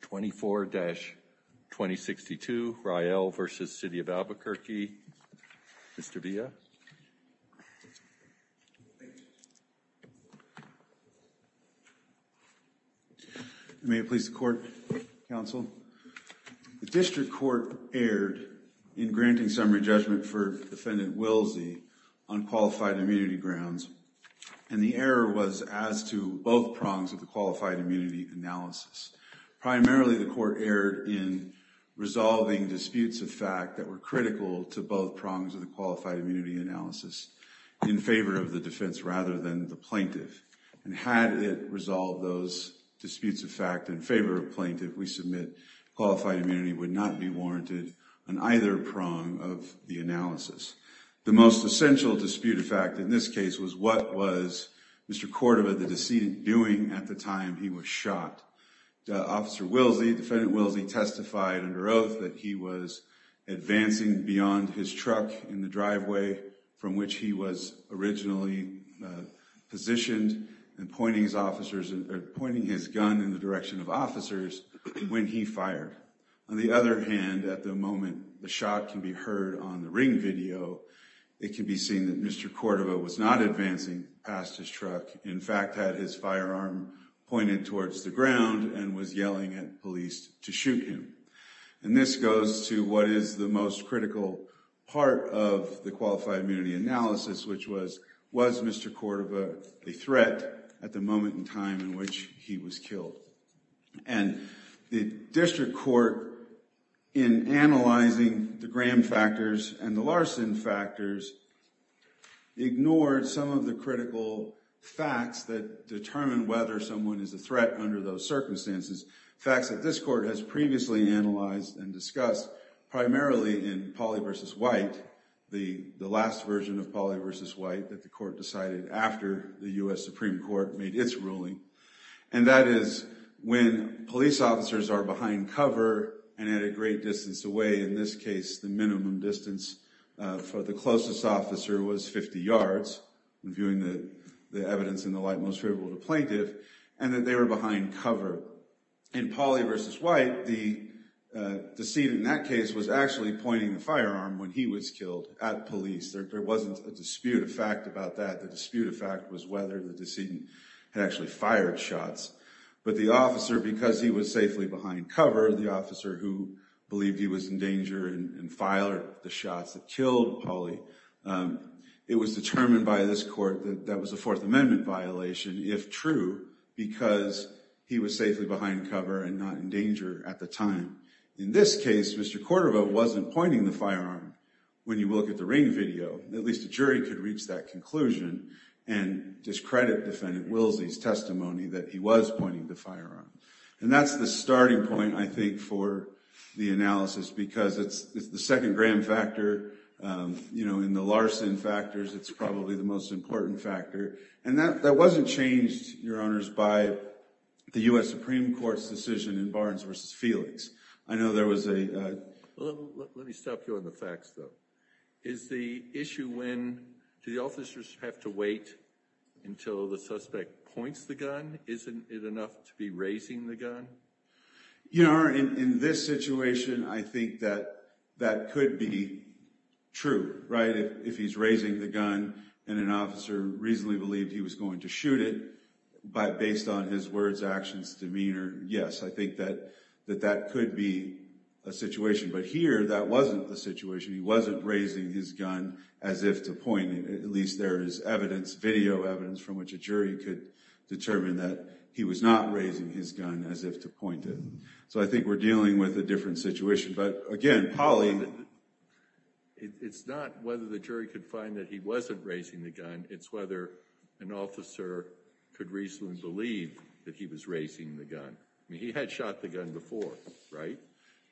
24-2062 Rael v. City of Albuquerque, Mr. Villa. May it please the Court, Counsel. The District Court erred in granting summary judgment for Defendant Willsie on qualified immunity grounds, and the error was as to both prongs of the Qualified Immunity Analysis. Primarily, the Court erred in resolving disputes of fact that were critical to both prongs of the Qualified Immunity Analysis in favor of the defense rather than the plaintiff. And had it resolved those disputes of fact in favor of the plaintiff, we submit Qualified Immunity would not be warranted on either prong of the analysis. The most essential dispute of fact in this case was what was Mr. Cordova, the decedent, doing at the time he was shot. Officer Willsie, Defendant Willsie testified under oath that he was advancing beyond his truck in the driveway from which he was originally positioned and pointing his gun in the direction of officers when he fired. On the other hand, at the moment the shot can be heard on the ring video, it can be seen that Mr. Cordova was not advancing past his truck, in fact had his firearm pointed towards the ground and was yelling at police to shoot him. And this goes to what is the most critical part of the Qualified Immunity Analysis, which was, was Mr. Cordova a threat at the moment in time in which he was killed? And the district court in analyzing the Graham factors and the Larson factors ignored some of the critical facts that determine whether someone is a threat under those circumstances. Facts that this court has previously analyzed and discussed primarily in Pauley v. White, the last version of Pauley v. White that the court decided after the U.S. Supreme Court made its ruling. And that is when police officers are behind cover and at a great distance away, in this case the minimum distance for the closest officer was 50 yards, viewing the evidence in the light most favorable to plaintiff, and that they were behind cover. In Pauley v. White, the decedent in that case was actually pointing the firearm when he was killed at police, there wasn't a dispute of fact about that, the dispute of fact was whether the decedent had actually fired shots, but the officer, because he was safely behind cover, the officer who believed he was in danger and filed the shots that killed Pauley, it was determined by this court that that was a Fourth Amendment violation, if true, because he was safely behind cover and not in danger at the time. In this case, Mr. Cordova wasn't pointing the firearm. When you look at the ring video, at least a jury could reach that conclusion and discredit Defendant Willsie's testimony that he was pointing the firearm. And that's the starting point, I think, for the analysis because it's the second grand factor, you know, in the Larson factors, it's probably the most important factor, and that wasn't changed, Your Honors, by the U.S. Supreme Court's decision in Barnes v. Felix. I know there was a... Let me stop you on the facts, though. Is the issue when, do the officers have to wait until the suspect points the gun? Isn't it enough to be raising the gun? Your Honor, in this situation, I think that that could be true, right? If he's raising the gun and an officer reasonably believed he was going to shoot it, but based on his words, actions, demeanor, yes, I think that that could be a situation. But here, that wasn't the situation. He wasn't raising his gun as if to point it, at least there is evidence, video evidence from which a jury could determine that he was not raising his gun as if to point it. So I think we're dealing with a different situation, but again, Polly... It's not whether the jury could find that he wasn't raising the gun, it's whether an officer could reasonably believe that he was raising the gun. I mean, he had shot the gun before, right?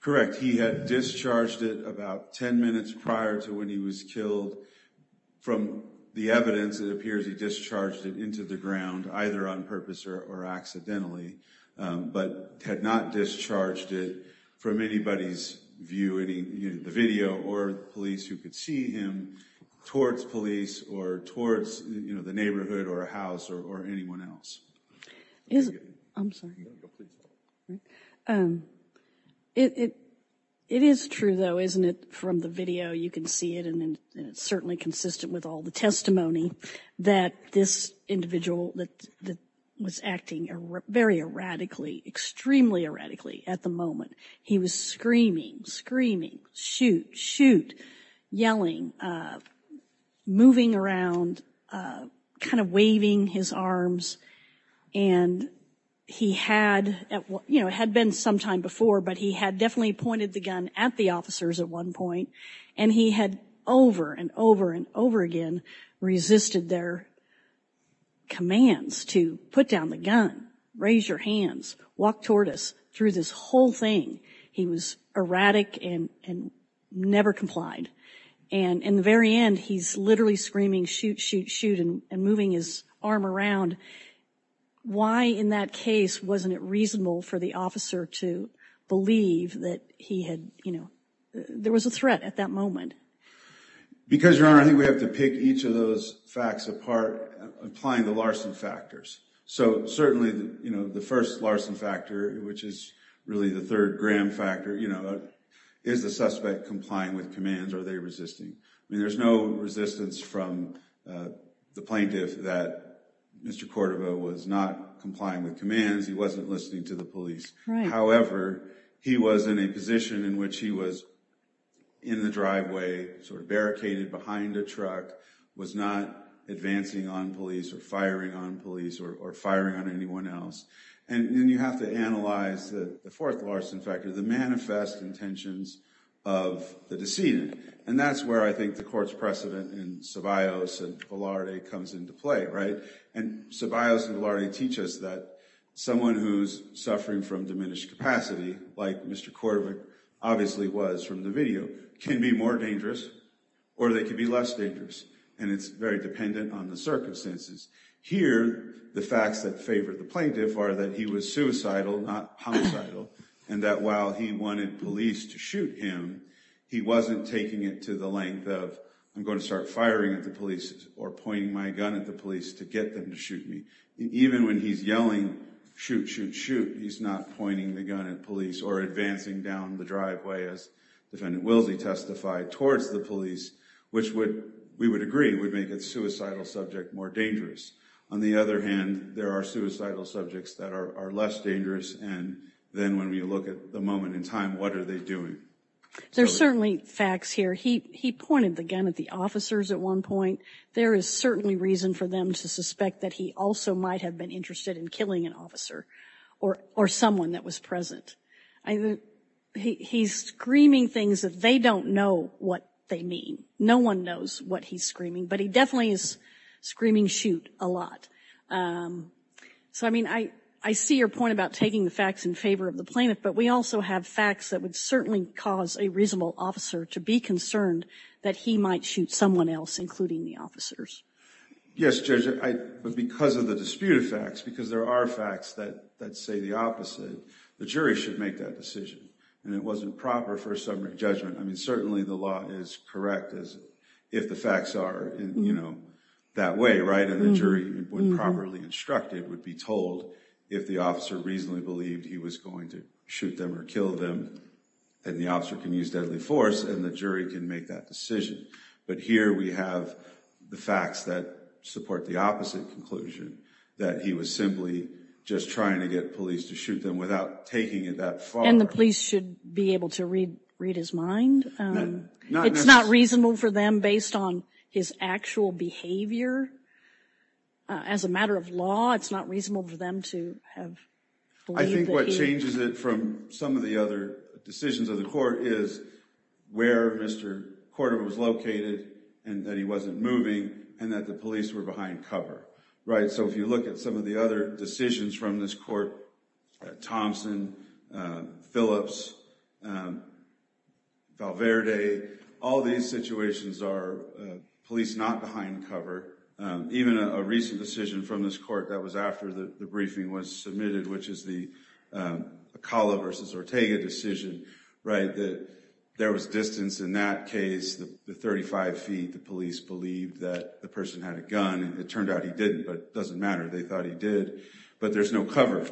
Correct. In fact, he had discharged it about 10 minutes prior to when he was killed. From the evidence, it appears he discharged it into the ground, either on purpose or accidentally, but had not discharged it from anybody's view, the video or the police who could see him towards police or towards the neighborhood or a house or anyone else. I'm sorry. No, go ahead. It is true though, isn't it, from the video, you can see it and it's certainly consistent with all the testimony that this individual was acting very erratically, extremely erratically at the moment. He was screaming, screaming, shoot, shoot, yelling, moving around, kind of waving his arms and he had, you know, had been sometime before, but he had definitely pointed the gun at the officers at one point and he had over and over and over again resisted their commands to put down the gun, raise your hands, walk toward us, through this whole thing. He was erratic and never complied. And in the very end, he's literally screaming, shoot, shoot, shoot, and moving his arm around. Why in that case wasn't it reasonable for the officer to believe that he had, you know, there was a threat at that moment? Because, Your Honor, I think we have to pick each of those facts apart, applying the Larson factors. So, certainly, you know, the first Larson factor, which is really the third Graham factor, you know, is the suspect complying with commands or are they resisting? I mean, there's no resistance from the plaintiff that Mr. Cordova was not complying with commands, he wasn't listening to the police. However, he was in a position in which he was in the driveway, sort of barricaded behind a truck, was not advancing on police or firing on police or firing on anyone else. And then you have to analyze the fourth Larson factor, the manifest intentions of the decedent. And that's where I think the court's precedent in Ceballos and Velarde comes into play, right? And Ceballos and Velarde teach us that someone who's suffering from diminished capacity, like Mr. Cordova obviously was from the video, can be more dangerous or they can be less dangerous and it's very dependent on the circumstances. Here, the facts that favor the plaintiff are that he was suicidal, not homicidal, and that while he wanted police to shoot him, he wasn't taking it to the length of, I'm going to start firing at the police or pointing my gun at the police to get them to shoot me. Even when he's yelling, shoot, shoot, shoot, he's not pointing the gun at police or advancing down the driveway, as Defendant Wilsey testified, towards the police, which we would agree would make a suicidal subject more dangerous. On the other hand, there are suicidal subjects that are less dangerous and then when we look at the moment in time, what are they doing? There's certainly facts here. He pointed the gun at the officers at one point. There is certainly reason for them to suspect that he also might have been interested in killing an officer or someone that was present. He's screaming things that they don't know what they mean. No one knows what he's screaming, but he definitely is screaming, shoot, a lot. So I mean, I see your point about taking the facts in favor of the plaintiff, but we also have facts that would certainly cause a reasonable officer to be concerned that he might shoot someone else, including the officers. Yes, Judge, but because of the disputed facts, because there are facts that say the opposite, the jury should make that decision. And it wasn't proper for a summary judgment. I mean, certainly the law is correct if the facts are, you know, that way, right? And the jury, when properly instructed, would be told if the officer reasonably believed he was going to shoot them or kill them, then the officer can use deadly force and the jury can make that decision. But here we have the facts that support the opposite conclusion, that he was simply just trying to get police to shoot them without taking it that far. And the police should be able to read his mind? It's not reasonable for them, based on his actual behavior? As a matter of law, it's not reasonable for them to have believed that? I think what changes it from some of the other decisions of the court is where Mr. Cordova was located and that he wasn't moving and that the police were behind cover, right? So if you look at some of the other decisions from this court, Thompson, Phillips, Valverde, all these situations are police not behind cover. Even a recent decision from this court that was after the briefing was submitted, which is the Acala versus Ortega decision, right? There was distance in that case, the 35 feet, the police believed that the person had a It turned out he didn't, but it doesn't matter, they thought he did. But there's no cover,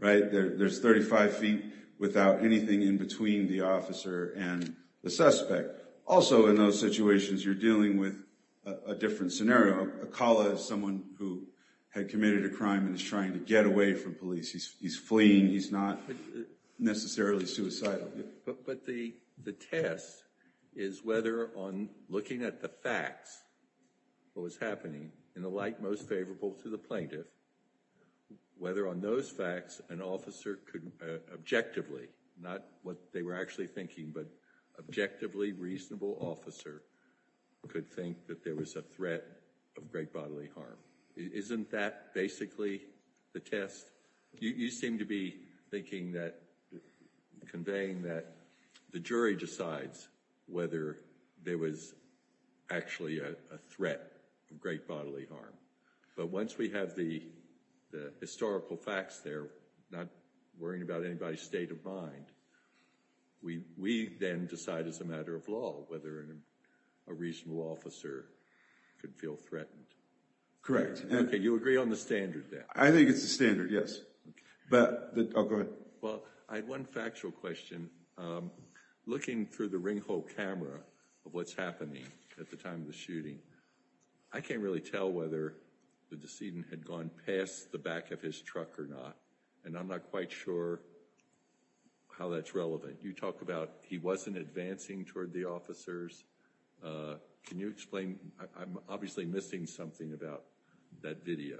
right? There's 35 feet without anything in between the officer and the suspect. Also in those situations, you're dealing with a different scenario. Acala is someone who had committed a crime and is trying to get away from police. He's fleeing, he's not necessarily suicidal. But the test is whether on looking at the facts, what was happening, in the light most favorable to the plaintiff, whether on those facts an officer could objectively, not what they were actually thinking, but objectively reasonable officer could think that there was a threat of great bodily harm. Isn't that basically the test? You seem to be thinking that, conveying that the jury decides whether there was actually a threat of great bodily harm. But once we have the historical facts there, not worrying about anybody's state of mind, we then decide as a matter of law whether a reasonable officer could feel threatened. Correct. Okay, you agree on the standard there? I think it's the standard, yes. But, I'll go ahead. Well, I had one factual question. Looking through the ring hole camera of what's happening at the time of the shooting, I can't really tell whether the decedent had gone past the back of his truck or not. And I'm not quite sure how that's relevant. You talk about he wasn't advancing toward the officers. Can you explain? I'm obviously missing something about that video.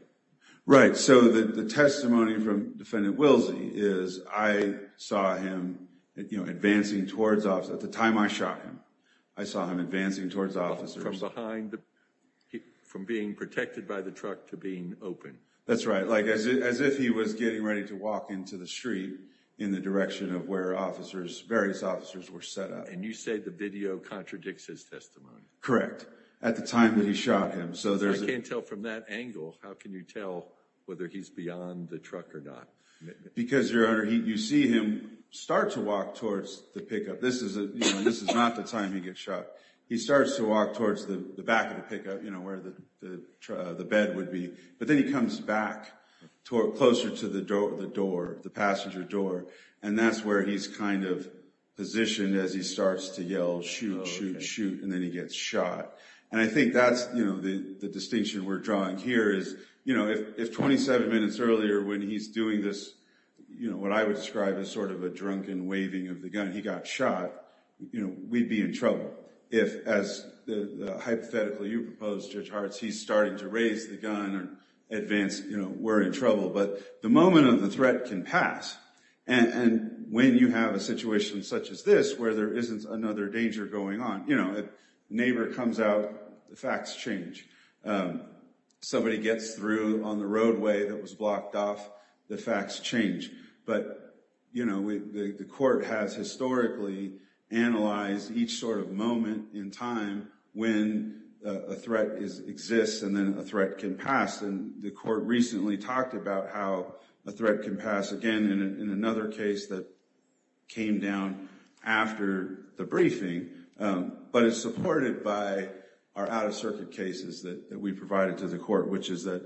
Right, so the testimony from Defendant Wilsey is, I saw him advancing towards officers. At the time I shot him, I saw him advancing towards officers. From being protected by the truck to being open. That's right. As if he was getting ready to walk into the street in the direction of where various officers were set up. And you say the video contradicts his testimony? Correct. At the time that he shot him. I can't tell from that angle, how can you tell whether he's beyond the truck or not? Because you see him start to walk towards the pickup. This is not the time he gets shot. He starts to walk towards the back of the pickup, where the bed would be. But then he comes back, closer to the door, the passenger door. And that's where he's kind of positioned as he starts to yell, shoot, shoot, shoot. And then he gets shot. And I think that's the distinction we're drawing here is, if 27 minutes earlier when he's doing this, what I would describe as sort of a drunken waving of the gun, he got shot, we'd be in If, as hypothetically, you propose, Judge Hartz, he's starting to raise the gun or advance, we're in trouble. But the moment of the threat can pass. And when you have a situation such as this, where there isn't another danger going on, a neighbor comes out, the facts change. Somebody gets through on the roadway that was blocked off, the facts change. But the court has historically analyzed each sort of moment in time when a threat exists and then a threat can pass. And the court recently talked about how a threat can pass, again, in another case that came down after the briefing. But it's supported by our out-of-circuit cases that we provided to the court, which is that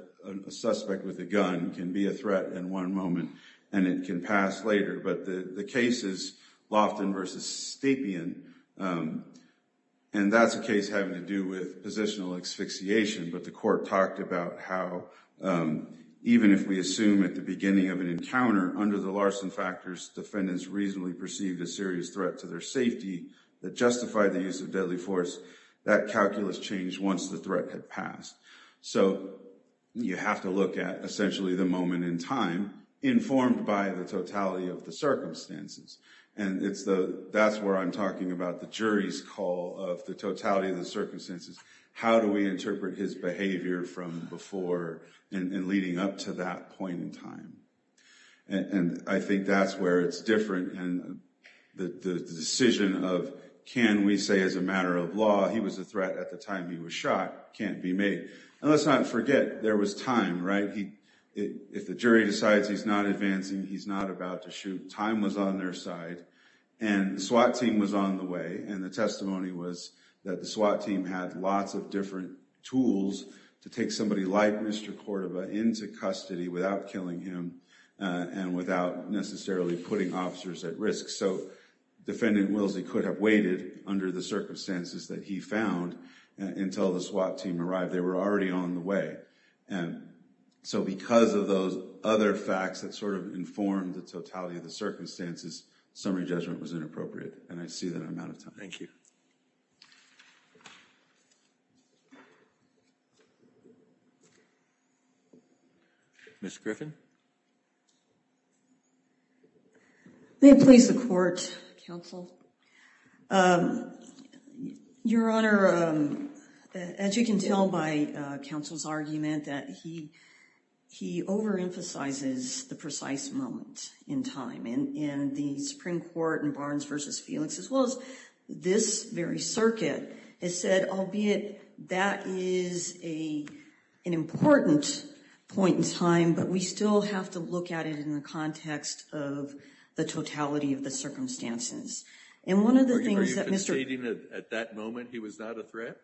a suspect with a gun can be a threat in one moment and it can pass later. But the case is Lofton v. Stapien, and that's a case having to do with positional asphyxiation. But the court talked about how, even if we assume at the beginning of an encounter, under the Larson factors, defendants reasonably perceived a serious threat to their safety that justified the use of deadly force, that calculus changed once the threat had passed. So you have to look at, essentially, the moment in time informed by the totality of the circumstances. And that's where I'm talking about the jury's call of the totality of the circumstances. How do we interpret his behavior from before and leading up to that point in time? And I think that's where it's different, and the decision of, can we say as a matter of law, he was a threat at the time he was shot, can't be made. And let's not forget, there was time, right? If the jury decides he's not advancing, he's not about to shoot, time was on their side. And the SWAT team was on the way, and the testimony was that the SWAT team had lots of different tools to take somebody like Mr. Cordova into custody without killing him and without necessarily putting officers at risk. So, Defendant Willsie could have waited under the circumstances that he found until the SWAT team arrived. They were already on the way, and so because of those other facts that sort of informed the totality of the circumstances, summary judgment was inappropriate. And I see that I'm out of time. Thank you. Ms. Griffin? May it please the Court, Counsel? Your Honor, as you can tell by Counsel's argument, that he overemphasizes the precise moment in time. And the Supreme Court in Barnes v. Felix, as well as this very circuit, has said, albeit that is an important point in time, but we still have to look at it in the context of the totality of the circumstances. And one of the things that Mr. — Are you conceding that at that moment he was not a threat?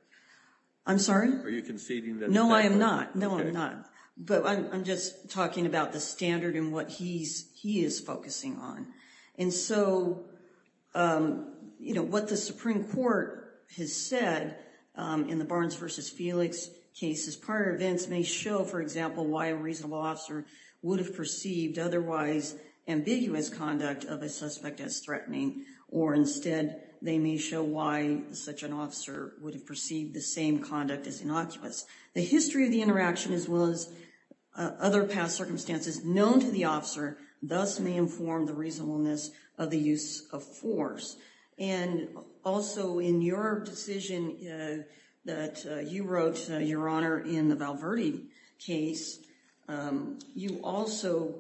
I'm sorry? Are you conceding that — No, I am not. No, I'm not. But I'm just talking about the standard and what he is focusing on. And so, you know, what the Supreme Court has said in the Barnes v. Felix cases, prior events may show, for example, why a reasonable officer would have perceived otherwise ambiguous conduct of a suspect as threatening. Or instead, they may show why such an officer would have perceived the same conduct as innocuous. The history of the interaction, as well as other past circumstances known to the officer, thus may inform the reasonableness of the use of force. And also, in your decision that you wrote, Your Honor, in the Val Verde case, you also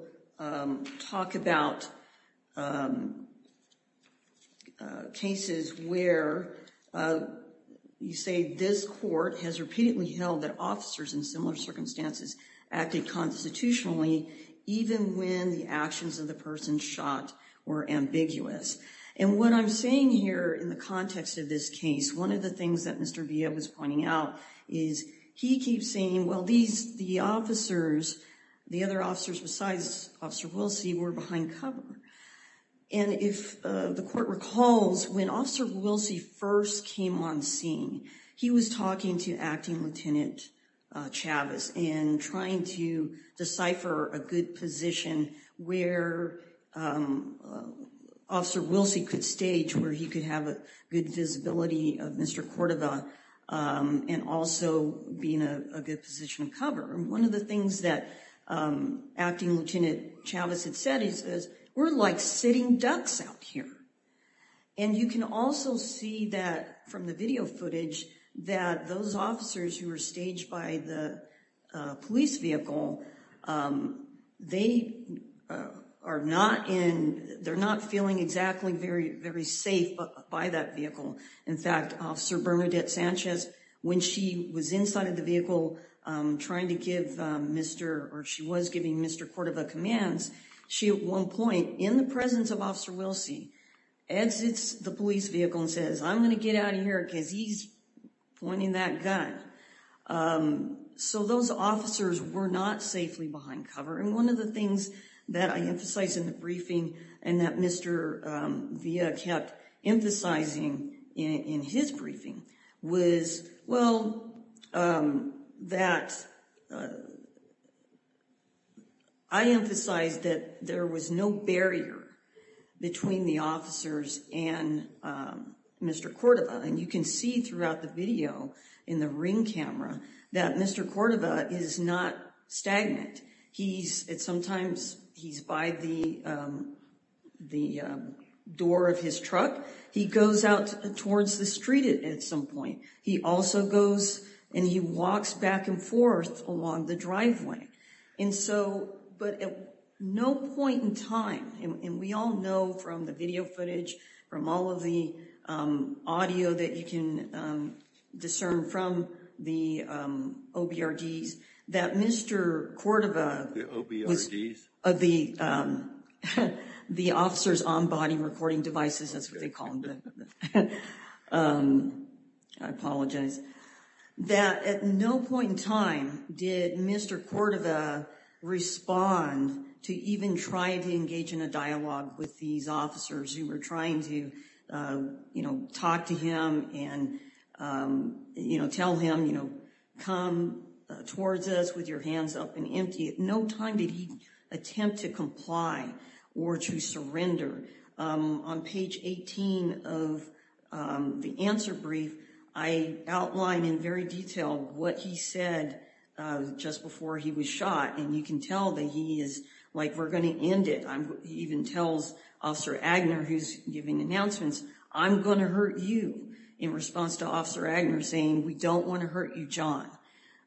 talk about cases where you say this court has repeatedly held that officers in similar actions of the person shot were ambiguous. And what I'm saying here in the context of this case, one of the things that Mr. Villa was pointing out is he keeps saying, well, these — the officers, the other officers besides Officer Wilsey, were behind cover. And if the court recalls, when Officer Wilsey first came on scene, he was talking to Acting Lieutenant Chavez, where Officer Wilsey could stage where he could have a good visibility of Mr. Cordova and also be in a good position to cover. And one of the things that Acting Lieutenant Chavez had said is, we're like sitting ducks out here. And you can also see that from the video footage, that those officers who were staged by the police vehicle, they are not in — they're not feeling exactly very safe by that vehicle. In fact, Officer Bernadette Sanchez, when she was inside of the vehicle trying to give Mr. — or she was giving Mr. Cordova commands, she at one point, in the presence of Officer Wilsey, exits the police vehicle and says, I'm going to get out of here because he's pointing that gun. So those officers were not safely behind cover. And one of the things that I emphasized in the briefing and that Mr. Villa kept emphasizing in his briefing was, well, that — I emphasized that there was no barrier between the officers and Mr. Cordova. And you can see throughout the video in the ring camera that Mr. Cordova is not stagnant. He's — sometimes he's by the door of his truck. He goes out towards the street at some point. He also goes and he walks back and forth along the driveway. And so — but at no point in time — and we all know from the video footage, from all of the audio that you can discern from the OBRDs, that Mr. Cordova — The OBRDs? The officers on body recording devices. That's what they call them. I apologize. That at no point in time did Mr. Cordova respond to even trying to engage in a dialogue with these officers who were trying to, you know, talk to him and, you know, tell him, you know, come towards us with your hands up and empty. At no time did he attempt to comply or to surrender. On page 18 of the answer brief, I outline in very detail what he said just before he was shot. And you can tell that he is like, we're going to end it. He even tells Officer Agner, who's giving announcements, I'm going to hurt you, in response to Officer Agner saying, we don't want to hurt you, John.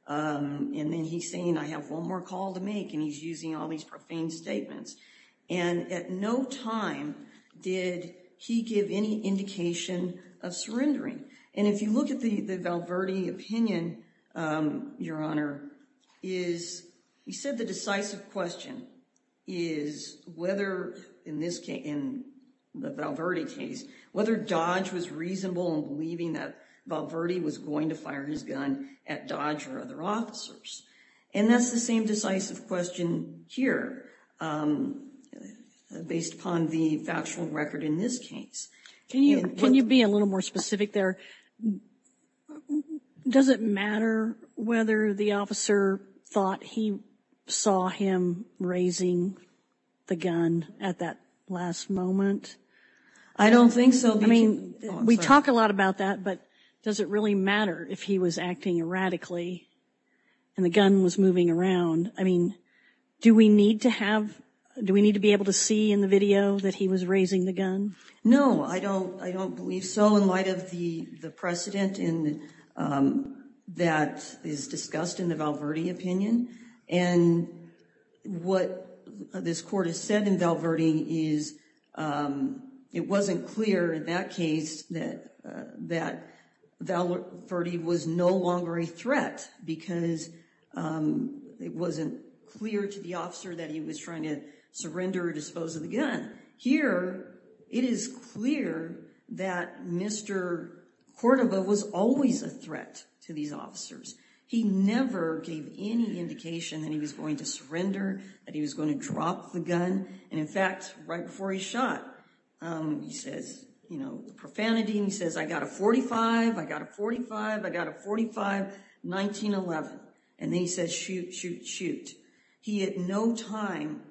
And then he's saying, I have one more call to make. And he's using all these profane statements. And at no time did he give any indication of surrendering. And if you look at the Val Verde opinion, Your Honor, is — he said the decisive question is whether, in this case, in the Val Verde case, whether Dodge was reasonable in believing that Val Verde was going to fire his gun at Dodge or other officers. And that's the same decisive question here, based upon the factual record in this case. Can you be a little more specific there? Does it matter whether the officer thought he saw him raising the gun at that last moment? I don't think so. I mean, we talk a lot about that, but does it really matter if he was acting erratically and the gun was moving around? I mean, do we need to have — do we need to be able to see in the video that he was raising the gun? No, I don't. I don't believe so in light of the precedent that is discussed in the Val Verde opinion. And what this court has said in Val Verde is it wasn't clear in that case that Val Verde was no longer a threat because it wasn't clear to the officer that he was trying to surrender or dispose of the gun. Here, it is clear that Mr. Cordova was always a threat to these officers. He never gave any indication that he was going to surrender, that he was going to drop the gun. And in fact, right before he shot, he says, you know, profanity, and he says, I got a 45, I got a 45, I got a 45, 1911. And then he says, shoot, shoot, shoot. He at no time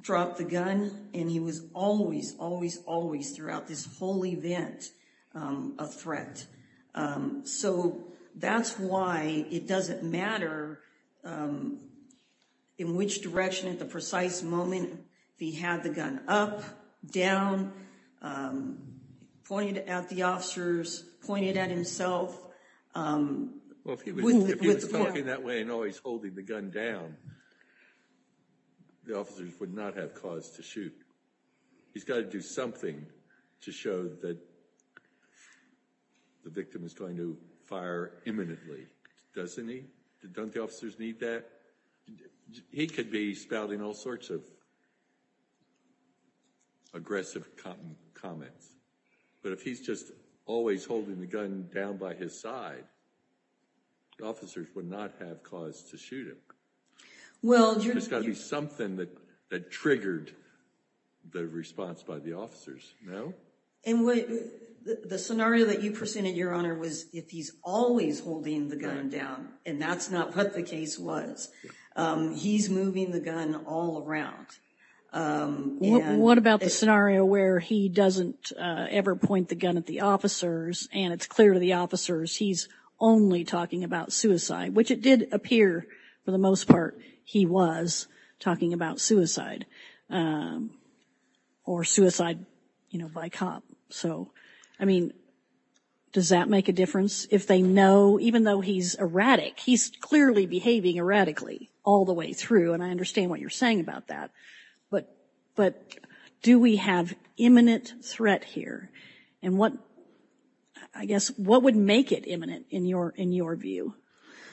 dropped the gun, and he was always, always, always throughout this whole event a threat. So that's why it doesn't matter in which direction at the precise moment if he had the gun up, down, pointed at the officers, pointed at himself. Well, if he was talking that way and always holding the gun down, the officers would not have cause to shoot. He's got to do something to show that the victim is going to fire imminently, doesn't he? Don't the officers need that? He could be spouting all sorts of aggressive comments. But if he's just always holding the gun down by his side, the officers would not have cause to shoot him. Well, there's got to be something that triggered the response by the officers, no? And the scenario that you presented, Your Honor, was if he's always holding the gun down, and that's not what the case was, he's moving the gun all around. What about the scenario where he doesn't ever point the gun at the officers and it's clear to the officers he's only talking about suicide, which it did appear for the most part he was talking about suicide or suicide by cop. So, I mean, does that make a difference if they know, even though he's erratic, he's clearly behaving erratically all the way through, and I understand what you're saying about that, but do we have imminent threat here? And what, I guess, what would make it imminent in your view?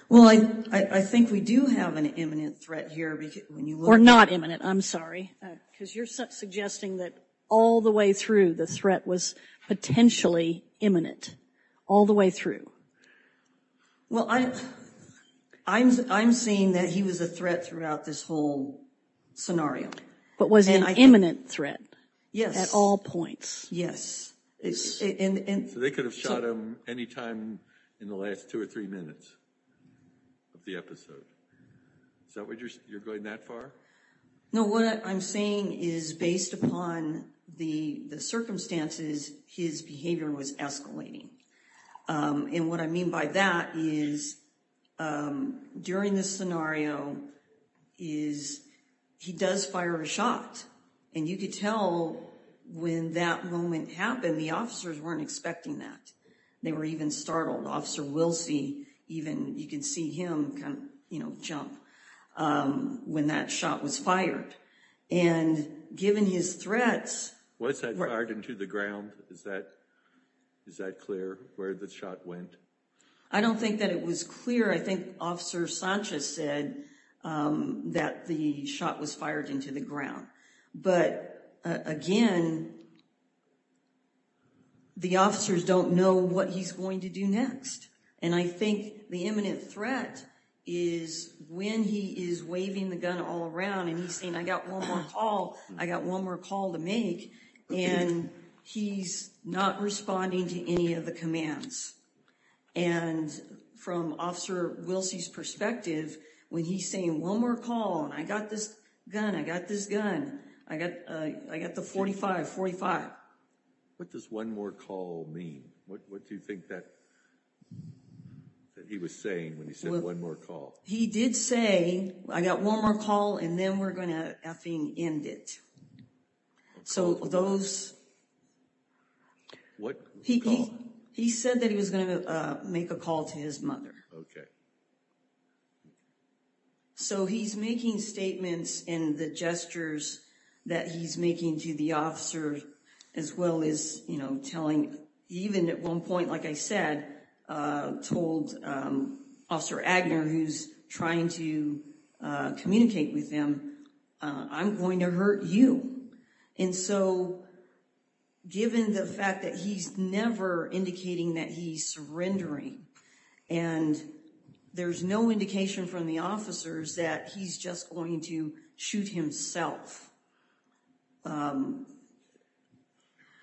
Well, I think we do have an imminent threat here. Or not imminent, I'm sorry, because you're suggesting that all the way through the threat was potentially imminent, all the way through. Well, I'm saying that he was a threat throughout this whole scenario. But was an imminent threat at all points. Yes, yes. So they could have shot him any time in the last two or three minutes of the episode. Is that what you're, you're going that far? No, what I'm saying is based upon the circumstances, his behavior was escalating. And what I mean by that is during this scenario is he does fire a shot. And you could tell when that moment happened, the officers weren't expecting that. They were even startled. Officer Wilsey, even you can see him kind of, you know, jump when that shot was fired. And given his threats. Was that fired into the ground? Is that, is that clear where the shot went? I don't think that it was clear. I think Officer Sanchez said that the shot was fired into the ground. But again, the officers don't know what he's going to do next. And I think the imminent threat is when he is waving the gun all around. And he's saying, I got one more call. I got one more call to make. And he's not responding to any of the commands. And from Officer Wilsey's perspective, when he's saying one more call. And I got this gun, I got this gun. I got, I got the 45, 45. What does one more call mean? What do you think that, that he was saying when he said one more call? He did say, I got one more call and then we're going to effing end it. So those. What? He said that he was going to make a call to his mother. So he's making statements and the gestures that he's making to the officer. As well as, you know, telling even at one point, like I said, told Officer Agner, who's trying to communicate with him. I'm going to hurt you. And so given the fact that he's never indicating that he's surrendering. And there's no indication from the officers that he's just going to shoot himself.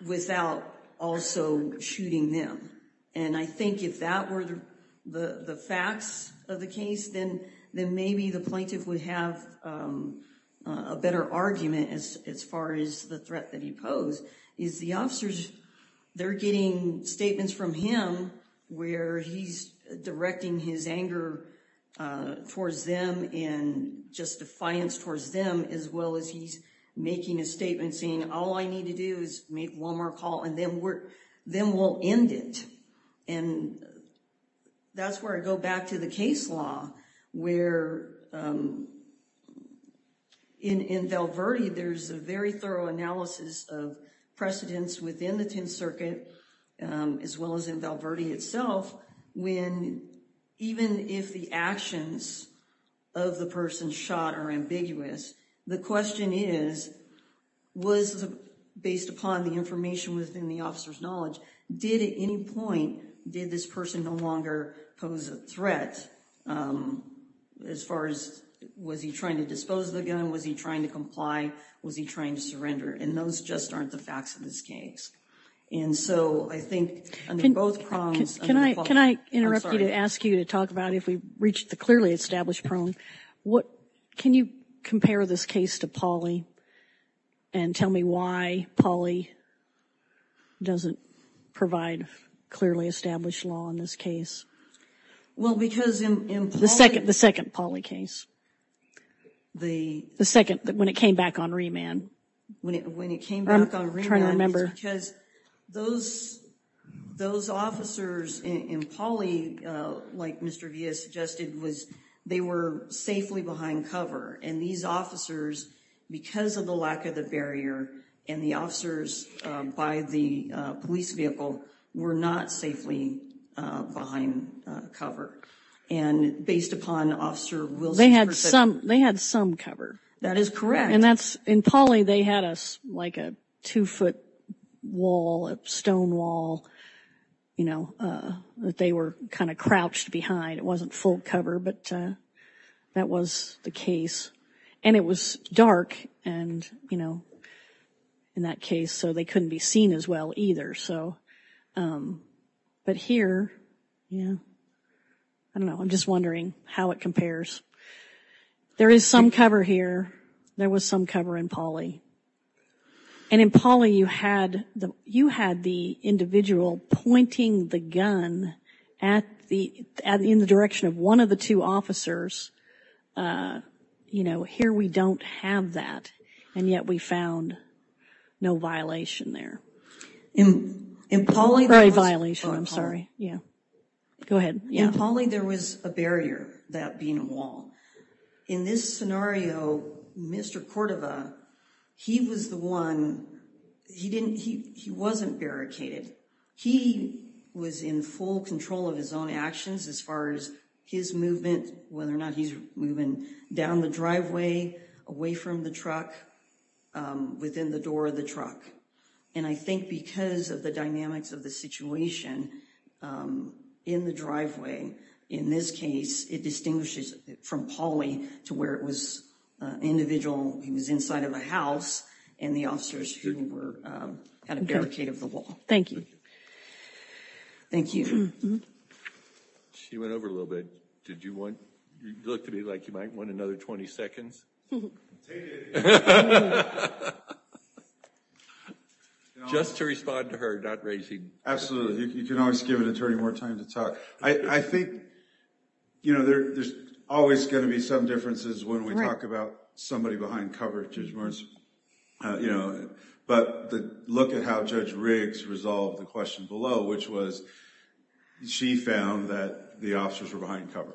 Without also shooting them. And I think if that were the facts of the case, then maybe the plaintiff would have a better argument as far as the threat that he posed. Is the officers, they're getting statements from him. Where he's directing his anger towards them and just defiance towards them. As well as he's making a statement saying all I need to do is make one more call. And then we're, then we'll end it. And that's where I go back to the case law. Where in Val Verde, there's a very thorough analysis of precedents within the 10th Circuit. As well as in Val Verde itself. When even if the actions of the person shot are ambiguous. The question is, was based upon the information within the officer's knowledge. Did at any point, did this person no longer pose a threat? As far as, was he trying to dispose of the gun? Was he trying to comply? Was he trying to surrender? And those just aren't the facts of this case. And so I think under both prongs. Can I interrupt you to ask you to talk about if we reach the clearly established prong. Can you compare this case to Pauley? And tell me why Pauley doesn't provide clearly established law in this case? Well, because in Pauley. The second Pauley case. The second, when it came back on remand. When it came back on remand. I'm trying to remember. Because those officers in Pauley, like Mr. Villa suggested. They were safely behind cover. And these officers, because of the lack of the barrier. And the officers by the police vehicle were not safely behind cover. And based upon Officer Wilson. They had some, they had some cover. That is correct. And that's in Pauley. They had us like a two foot wall, a stone wall. You know, they were kind of crouched behind. It wasn't full cover. But that was the case. And it was dark. And, you know, in that case. So they couldn't be seen as well either. So, but here, yeah. I don't know. I'm just wondering how it compares. There is some cover here. There was some cover in Pauley. And in Pauley, you had the individual pointing the gun. At the, in the direction of one of the two officers. Uh, you know, here we don't have that. And yet we found no violation there. In Pauley. Or a violation. I'm sorry. Yeah, go ahead. In Pauley, there was a barrier. That being a wall. In this scenario, Mr. Cordova. He was the one. He didn't, he wasn't barricaded. He was in full control of his own actions. As far as his movement. Whether or not he's moving down the driveway. Away from the truck. Within the door of the truck. And I think because of the dynamics of the situation. In the driveway. In this case, it distinguishes from Pauley. To where it was individual. He was inside of a house. And the officers who were at a barricade of the wall. Thank you. Thank you. She went over a little bit. Did you want. You look to me like you might want another 20 seconds. Just to respond to her. Not raising. Absolutely. You can always give an attorney more time to talk. I think, you know, there's always going to be some differences. When we talk about somebody behind coverage. You know, but the look at how Judge Riggs resolved the question below. Which was she found that the officers were behind cover.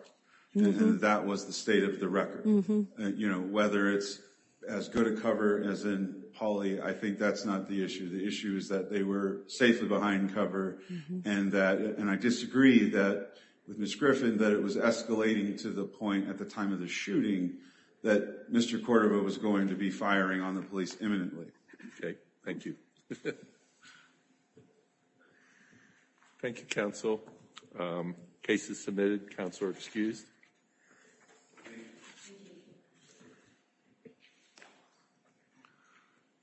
That was the state of the record. You know, whether it's as good a cover as in Pauley. I think that's not the issue. The issue is that they were safely behind cover. And that and I disagree that with Miss Griffin. That it was escalating to the point at the time of the shooting. That Mr. Cordova was going to be firing on the police imminently. Okay, thank you. Thank you, counsel. Cases submitted. Counselor excused.